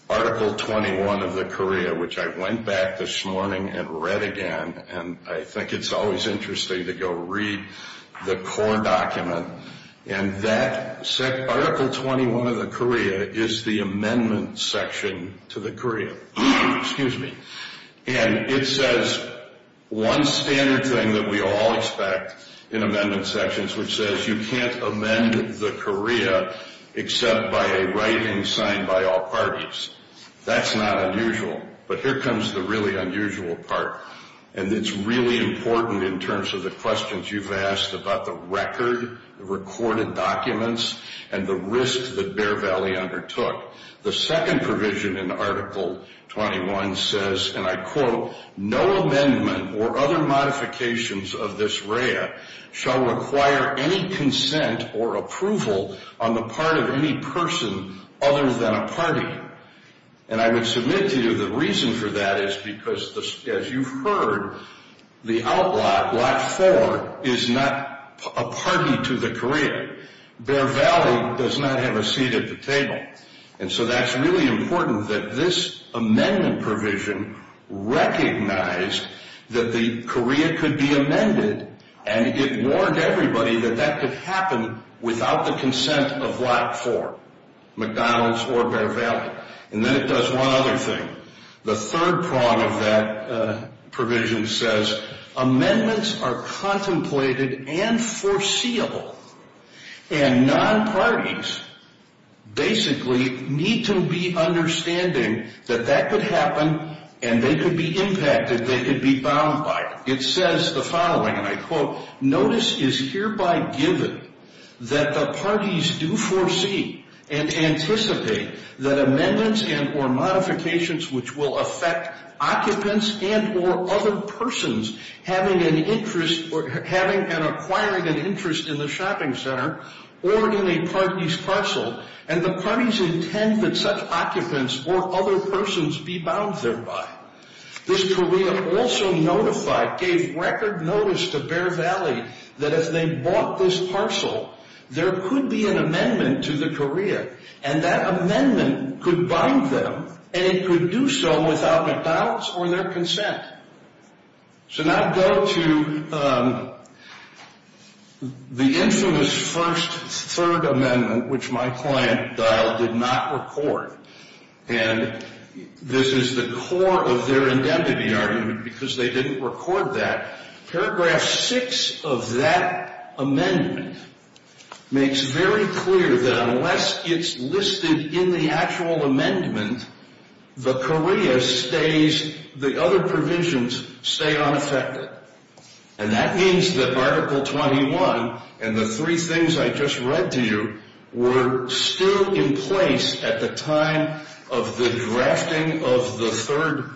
Article 21 of the COREA, which I went back this morning and read again. And I think it's always interesting to go read the COREA document. And that Article 21 of the COREA is the amendment section to the COREA. Excuse me. And it says one standard thing that we all expect in amendment sections, which says you can't amend the COREA except by a writing signed by all parties. That's not unusual. But here comes the really unusual part. And it's really important in terms of the questions you've asked about the record, the recorded documents, and the risk that Bear Valley undertook. The second provision in Article 21 says, and I quote, no amendment or other modifications of this REA shall require any consent or approval on the part of any person other than a party. And I would submit to you the reason for that is because, as you've heard, the outlaw, Lot 4, is not a party to the COREA. Bear Valley does not have a seat at the table. And so that's really important that this amendment provision recognized that the COREA could be amended, and it warned everybody that that could happen without the consent of Lot 4, McDonald's or Bear Valley. And then it does one other thing. The third prong of that provision says amendments are contemplated and foreseeable, and non-parties basically need to be understanding that that could happen and they could be impacted, they could be bound by it. It says the following, and I quote, Notice is hereby given that the parties do foresee and anticipate that amendments and or modifications which will affect occupants and or other persons having an interest or having and acquiring an interest in the shopping center or in a party's parcel, and the parties intend that such occupants or other persons be bound thereby. This COREA also notified, gave record notice to Bear Valley that if they bought this parcel, there could be an amendment to the COREA, and that amendment could bind them, and it could do so without McDonald's or their consent. So now go to the infamous first, third amendment, which my client, Dial, did not record. And this is the core of their indemnity argument because they didn't record that. Paragraph 6 of that amendment makes very clear that unless it's listed in the actual amendment, the COREA stays, the other provisions stay unaffected. And that means that Article 21 and the three things I just read to you were still in place at the time of the drafting of the third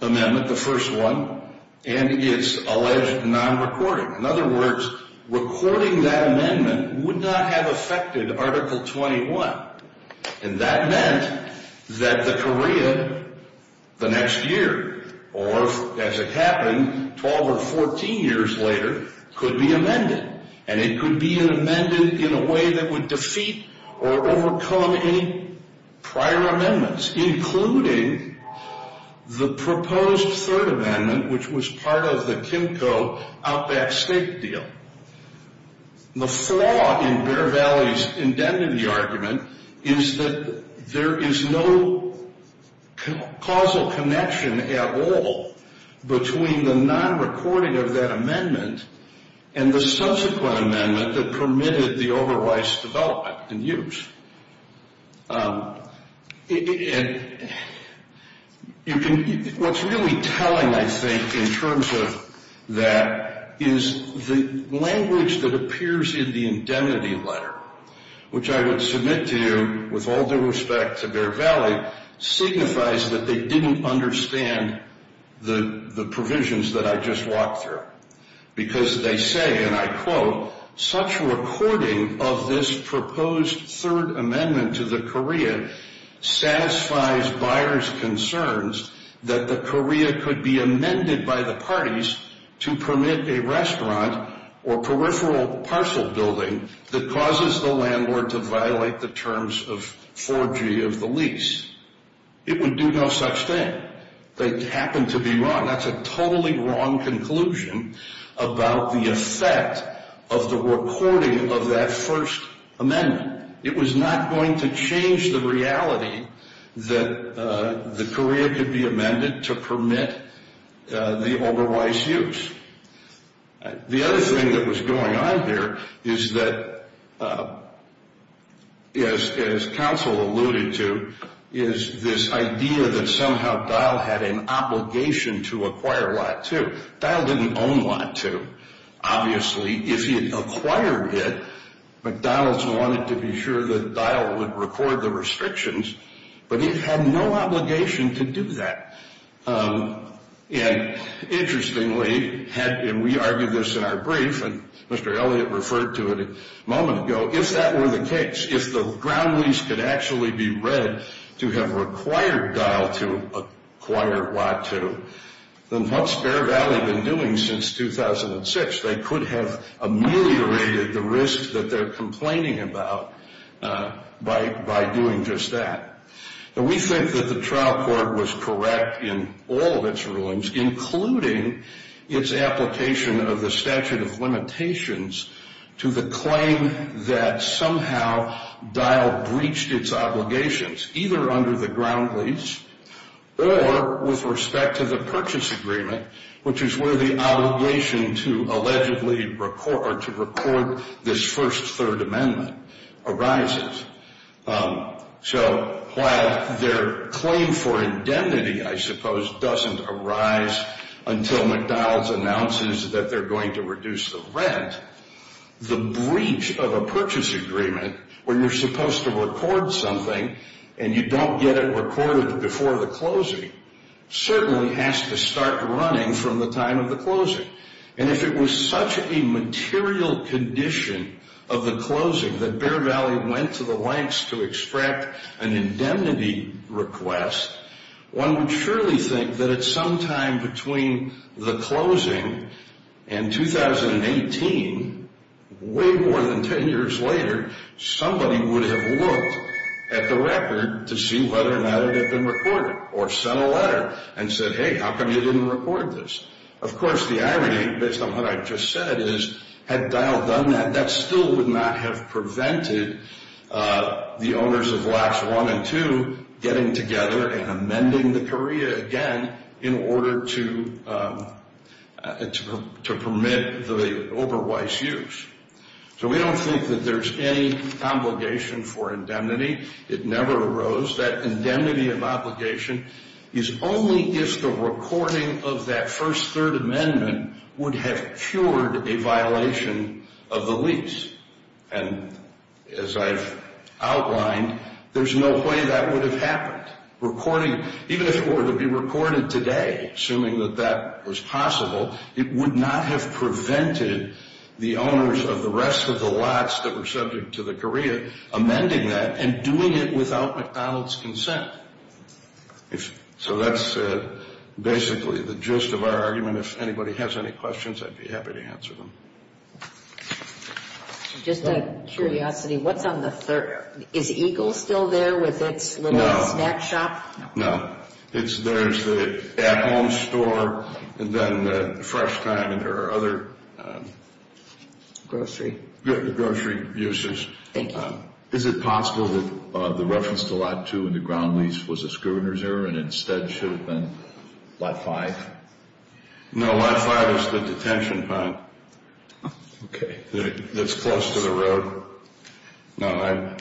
amendment, the first one, and it's alleged non-recording. In other words, recording that amendment would not have affected Article 21, and that meant that the COREA the next year or, as it happened, 12 or 14 years later could be amended, and it could be amended in a way that would defeat or overcome any prior amendments, including the proposed third amendment, which was part of the Kimco Outback Steak deal. The flaw in Bear Valley's indemnity argument is that there is no causal connection at all between the non-recording of that amendment and the subsequent amendment that permitted the overrides development and use. And what's really telling, I think, in terms of that is the language that appears in the indemnity letter, which I would submit to you with all due respect to Bear Valley, signifies that they didn't understand the provisions that I just walked through, because they say, and I quote, such recording of this proposed third amendment to the COREA satisfies buyers' concerns that the COREA could be amended by the parties to permit a restaurant or peripheral parcel building that causes the landlord to violate the terms of 4G of the lease. It would do no such thing. They happen to be wrong. That's a totally wrong conclusion about the effect of the recording of that first amendment. It was not going to change the reality that the COREA could be amended to permit the overrides use. The other thing that was going on here is that, as counsel alluded to, is this idea that somehow Dial had an obligation to acquire Lot 2. Dial didn't own Lot 2. Obviously, if he had acquired it, McDonald's wanted to be sure that Dial would record the restrictions, but he had no obligation to do that. And interestingly, and we argued this in our brief, and Mr. Elliott referred to it a moment ago, if that were the case, if the ground lease could actually be read to have required Dial to acquire Lot 2, then what's Bear Valley been doing since 2006? They could have ameliorated the risk that they're complaining about by doing just that. And we think that the trial court was correct in all of its rulings, including its application of the statute of limitations to the claim that somehow Dial breached its obligations, either under the ground lease or with respect to the purchase agreement, which is where the obligation to allegedly record or to record this first third amendment arises. So while their claim for indemnity, I suppose, doesn't arise until McDonald's announces that they're going to reduce the rent, the breach of a purchase agreement, where you're supposed to record something and you don't get it recorded before the closing, certainly has to start running from the time of the closing. And if it was such a material condition of the closing that Bear Valley went to the lengths to extract an indemnity request, one would surely think that at some time between the closing and 2018, way more than 10 years later, somebody would have looked at the record to see whether or not it had been recorded, or sent a letter and said, hey, how come you didn't record this? Of course, the irony, based on what I've just said, is had Dial done that, that still would not have prevented the owners of Lacks 1 and 2 getting together and amending the career again in order to permit the over-wise use. So we don't think that there's any obligation for indemnity. It never arose. That indemnity of obligation is only if the recording of that first third amendment would have cured a violation of the lease. And as I've outlined, there's no way that would have happened. Recording, even if it were to be recorded today, assuming that that was possible, it would not have prevented the owners of the rest of the lots that were subject to the career amending that and doing it without McDonald's consent. So that's basically the gist of our argument. If anybody has any questions, I'd be happy to answer them. Just out of curiosity, what's on the third? Is Eagle still there with its little snack shop? No. There's the at-home store and then Fresh Time and there are other grocery uses. Thank you. Is it possible that the reference to Lot 2 in the ground lease was a scruiner's error and instead should have been Lot 5? No, Lot 5 is the detention pond. Okay. That's close to the road. No, I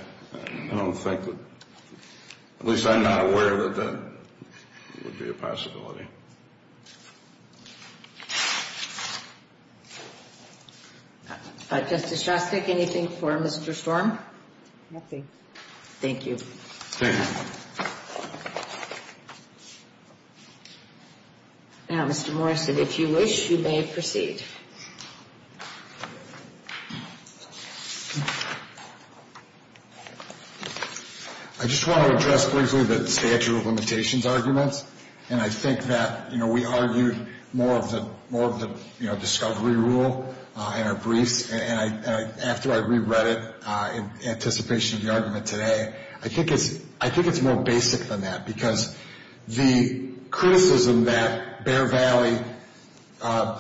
don't think. At least I'm not aware that that would be a possibility. Thank you. Justice Shostak, anything for Mr. Storm? Nothing. Thank you. Thank you. Now, Mr. Morrison, if you wish, you may proceed. I just want to address briefly the statute of limitations arguments and I think that we argued more of the discovery rule in our briefs and after I reread it in anticipation of the argument today, I think it's more basic than that because the criticism that Bear Valley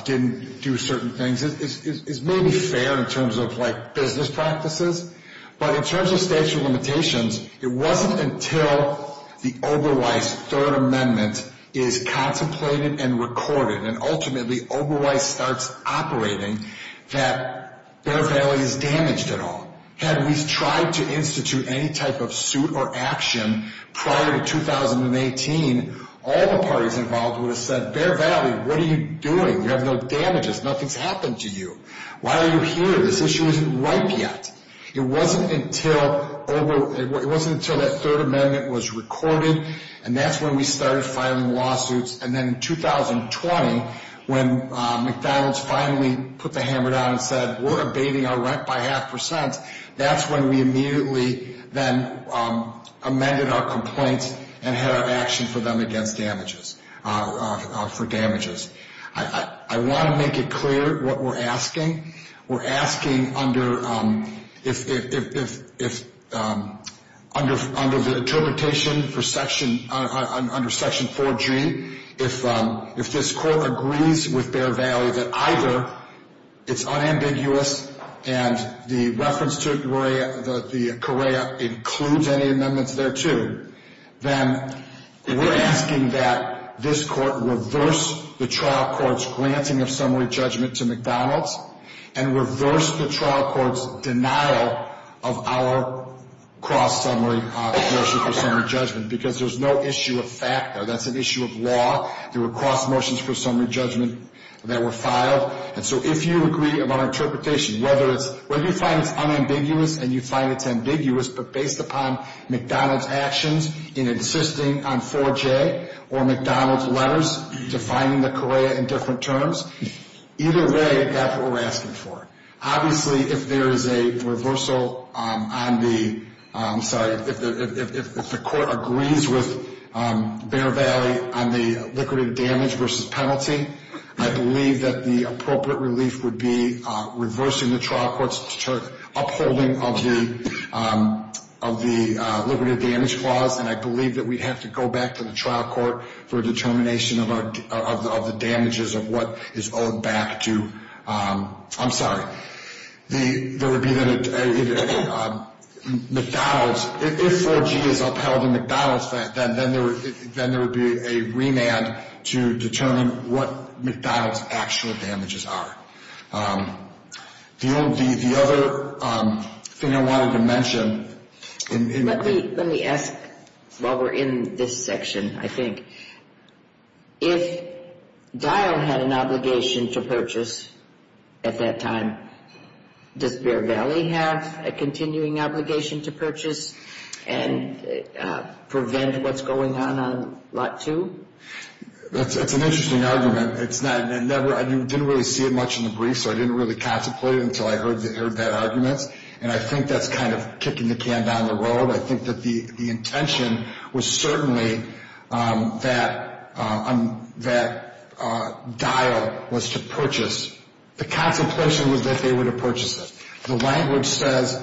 didn't do certain things is maybe fair in terms of, like, business practices, but in terms of statute of limitations, it wasn't until the Oberweiss Third Amendment is contemplated and recorded and ultimately Oberweiss starts operating that Bear Valley is damaged at all. Had we tried to institute any type of suit or action prior to 2018, all the parties involved would have said, Bear Valley, what are you doing? You have no damages. Nothing's happened to you. Why are you here? This issue isn't ripe yet. It wasn't until that Third Amendment was recorded and that's when we started filing lawsuits and then in 2020, when McDonald's finally put the hammer down and said, we're abating our rent by half percent, that's when we immediately then amended our complaints and had our action for them against damages, for damages. I want to make it clear what we're asking. We're asking under the interpretation under Section 4G, if this court agrees with Bear Valley that either it's unambiguous and the reference to the Correa includes any amendments thereto, then we're asking that this court reverse the trial court's granting of summary judgment to McDonald's and reverse the trial court's denial of our cross-summary motion for summary judgment because there's no issue of fact there. That's an issue of law. There were cross motions for summary judgment that were filed. And so if you agree about our interpretation, whether you find it's unambiguous and you find it's ambiguous, but based upon McDonald's actions in insisting on 4J or McDonald's letters defining the Correa in different terms, either way, that's what we're asking for. Obviously, if there is a reversal on the, I'm sorry, if the court agrees with Bear Valley on the liquidated damage versus penalty, I believe that the appropriate relief would be reversing the trial court's upholding of the liquidated damage clause, and I believe that we'd have to go back to the trial court for a determination of the damages of what is owed back to, I'm sorry. There would be then a McDonald's, if 4G is upheld in McDonald's, then there would be a remand to determine what McDonald's actual damages are. The other thing I wanted to mention. Let me ask while we're in this section, I think. If Dial had an obligation to purchase at that time, does Bear Valley have a continuing obligation to purchase and prevent what's going on on Lot 2? That's an interesting argument. I didn't really see it much in the brief, so I didn't really contemplate it until I heard that argument, and I think that's kind of kicking the can down the road. I think that the intention was certainly that Dial was to purchase. The contemplation was that they were to purchase it. The language says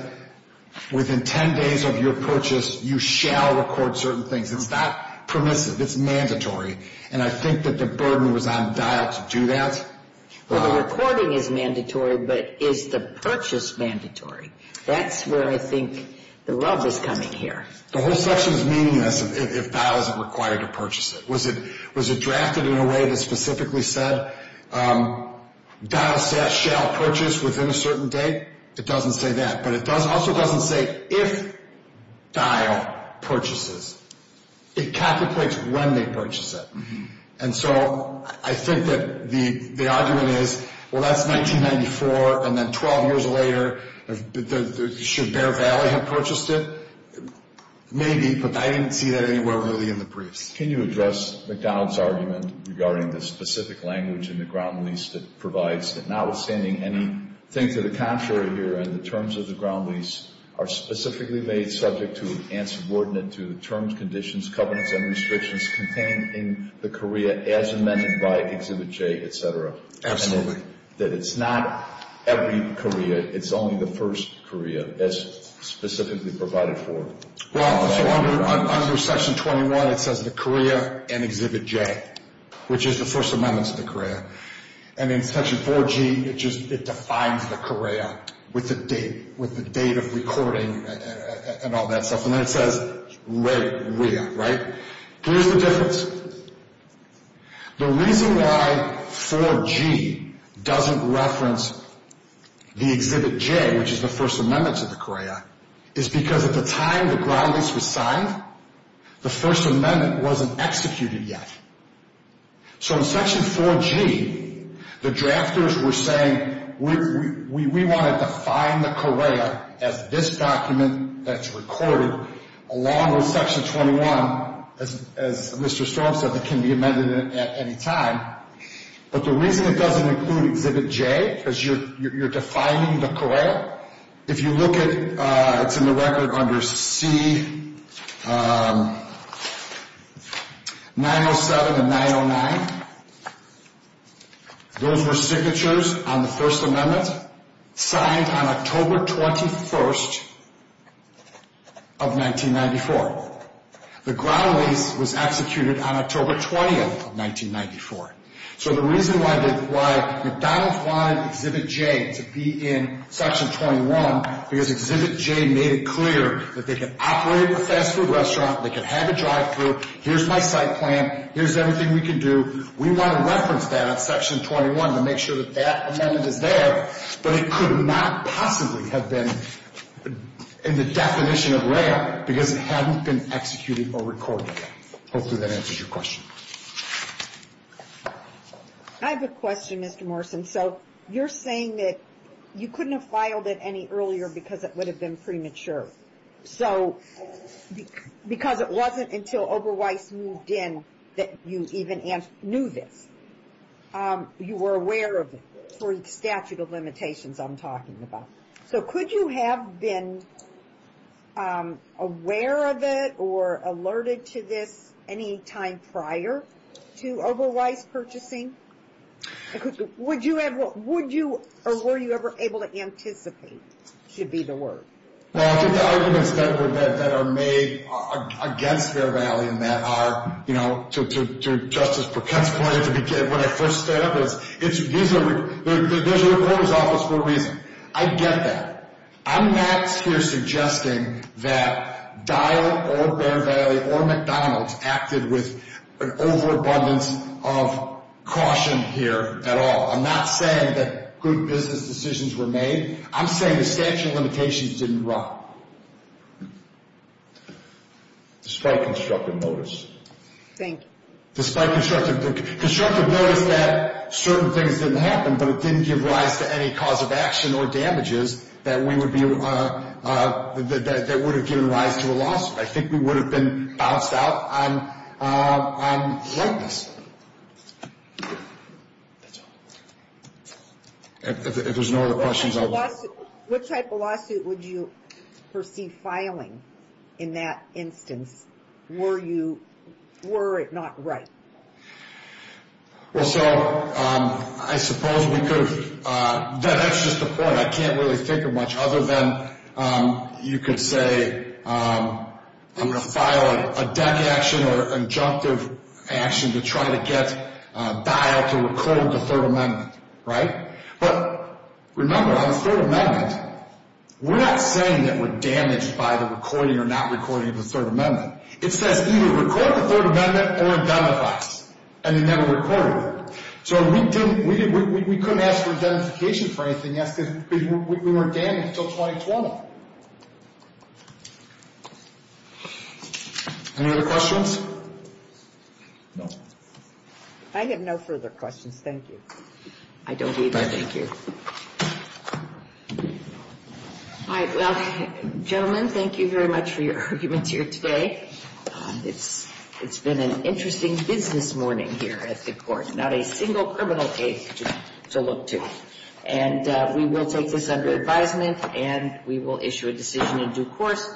within 10 days of your purchase, you shall record certain things. It's not permissive. It's mandatory, and I think that the burden was on Dial to do that. Well, the recording is mandatory, but is the purchase mandatory? That's where I think the rub is coming here. The whole section is meaningless if Dial isn't required to purchase it. Was it drafted in a way that specifically said Dial shall purchase within a certain date? It doesn't say that, but it also doesn't say if Dial purchases. It contemplates when they purchase it. And so I think that the argument is, well, that's 1994, and then 12 years later, should Bear Valley have purchased it? Maybe, but I didn't see that anywhere really in the briefs. Can you address McDonald's argument regarding the specific language in the ground lease that provides that notwithstanding anything to the contrary here and the terms of the ground lease are specifically made subject to and subordinate to the terms, conditions, covenants, and restrictions contained in the COREA as amended by Exhibit J, et cetera? Absolutely. That it's not every COREA, it's only the first COREA as specifically provided for? Well, under Section 21, it says the COREA and Exhibit J, which is the first amendments to the COREA. And in Section 4G, it just defines the COREA with the date of recording and all that stuff. And then it says REWEA, right? Here's the difference. The reason why 4G doesn't reference the Exhibit J, which is the first amendment to the COREA, is because at the time the ground lease was signed, the first amendment wasn't executed yet. So in Section 4G, the drafters were saying we want to define the COREA as this document that's recorded, along with Section 21, as Mr. Storm said, that can be amended at any time. But the reason it doesn't include Exhibit J, because you're defining the COREA, if you look at, it's in the record under C907 and 909, those were signatures on the first amendment, signed on October 21st of 1994. The ground lease was executed on October 20th of 1994. So the reason why McDonald's wanted Exhibit J to be in Section 21, because Exhibit J made it clear that they can operate a fast food restaurant, they can have a drive-thru, here's my site plan, here's everything we can do, we want to reference that on Section 21 to make sure that that amendment is there, but it could not possibly have been in the definition of REA because it hadn't been executed or recorded yet. Hopefully that answers your question. I have a question, Mr. Morrison. So you're saying that you couldn't have filed it any earlier because it would have been premature. So because it wasn't until Oberweiss moved in that you even knew this. You were aware of it for statute of limitations I'm talking about. So could you have been aware of it or alerted to this any time prior to Oberweiss purchasing? Would you ever, or were you ever able to anticipate, should be the word. Well, I think the arguments that are made against Fair Valley and that are, you know, to Justice Perkins' point when I first stood up is there's a reporter's office for a reason. I get that. I'm not here suggesting that Dial or Fair Valley or McDonald's acted with an overabundance of caution here at all. I'm not saying that good business decisions were made. I'm saying the statute of limitations didn't run. Despite constructive notice. Thank you. Despite constructive notice that certain things didn't happen, but it didn't give rise to any cause of action or damages that would have given rise to a lawsuit. I think we would have been bounced out on likeness. That's all. If there's no other questions, I'll leave. What type of lawsuit would you perceive filing in that instance? Were you, were it not right? Well, so I suppose we could have, that's just the point. I can't really think of much other than you could say I'm going to file a deck action or injunctive action to try to get Dial to recall the Third Amendment. Right? But remember, on the Third Amendment, we're not saying that we're damaged by the recording or not recording of the Third Amendment. It says either record the Third Amendment or identify us. And they never recorded it. So we couldn't ask for identification for anything else because we weren't damaged until 2020. Any other questions? No. I have no further questions. Thank you. I don't either. Thank you. All right. Well, gentlemen, thank you very much for your arguments here today. It's been an interesting business morning here at the court. Not a single criminal case to look to. And we will take this under advisement, and we will issue a decision in due course.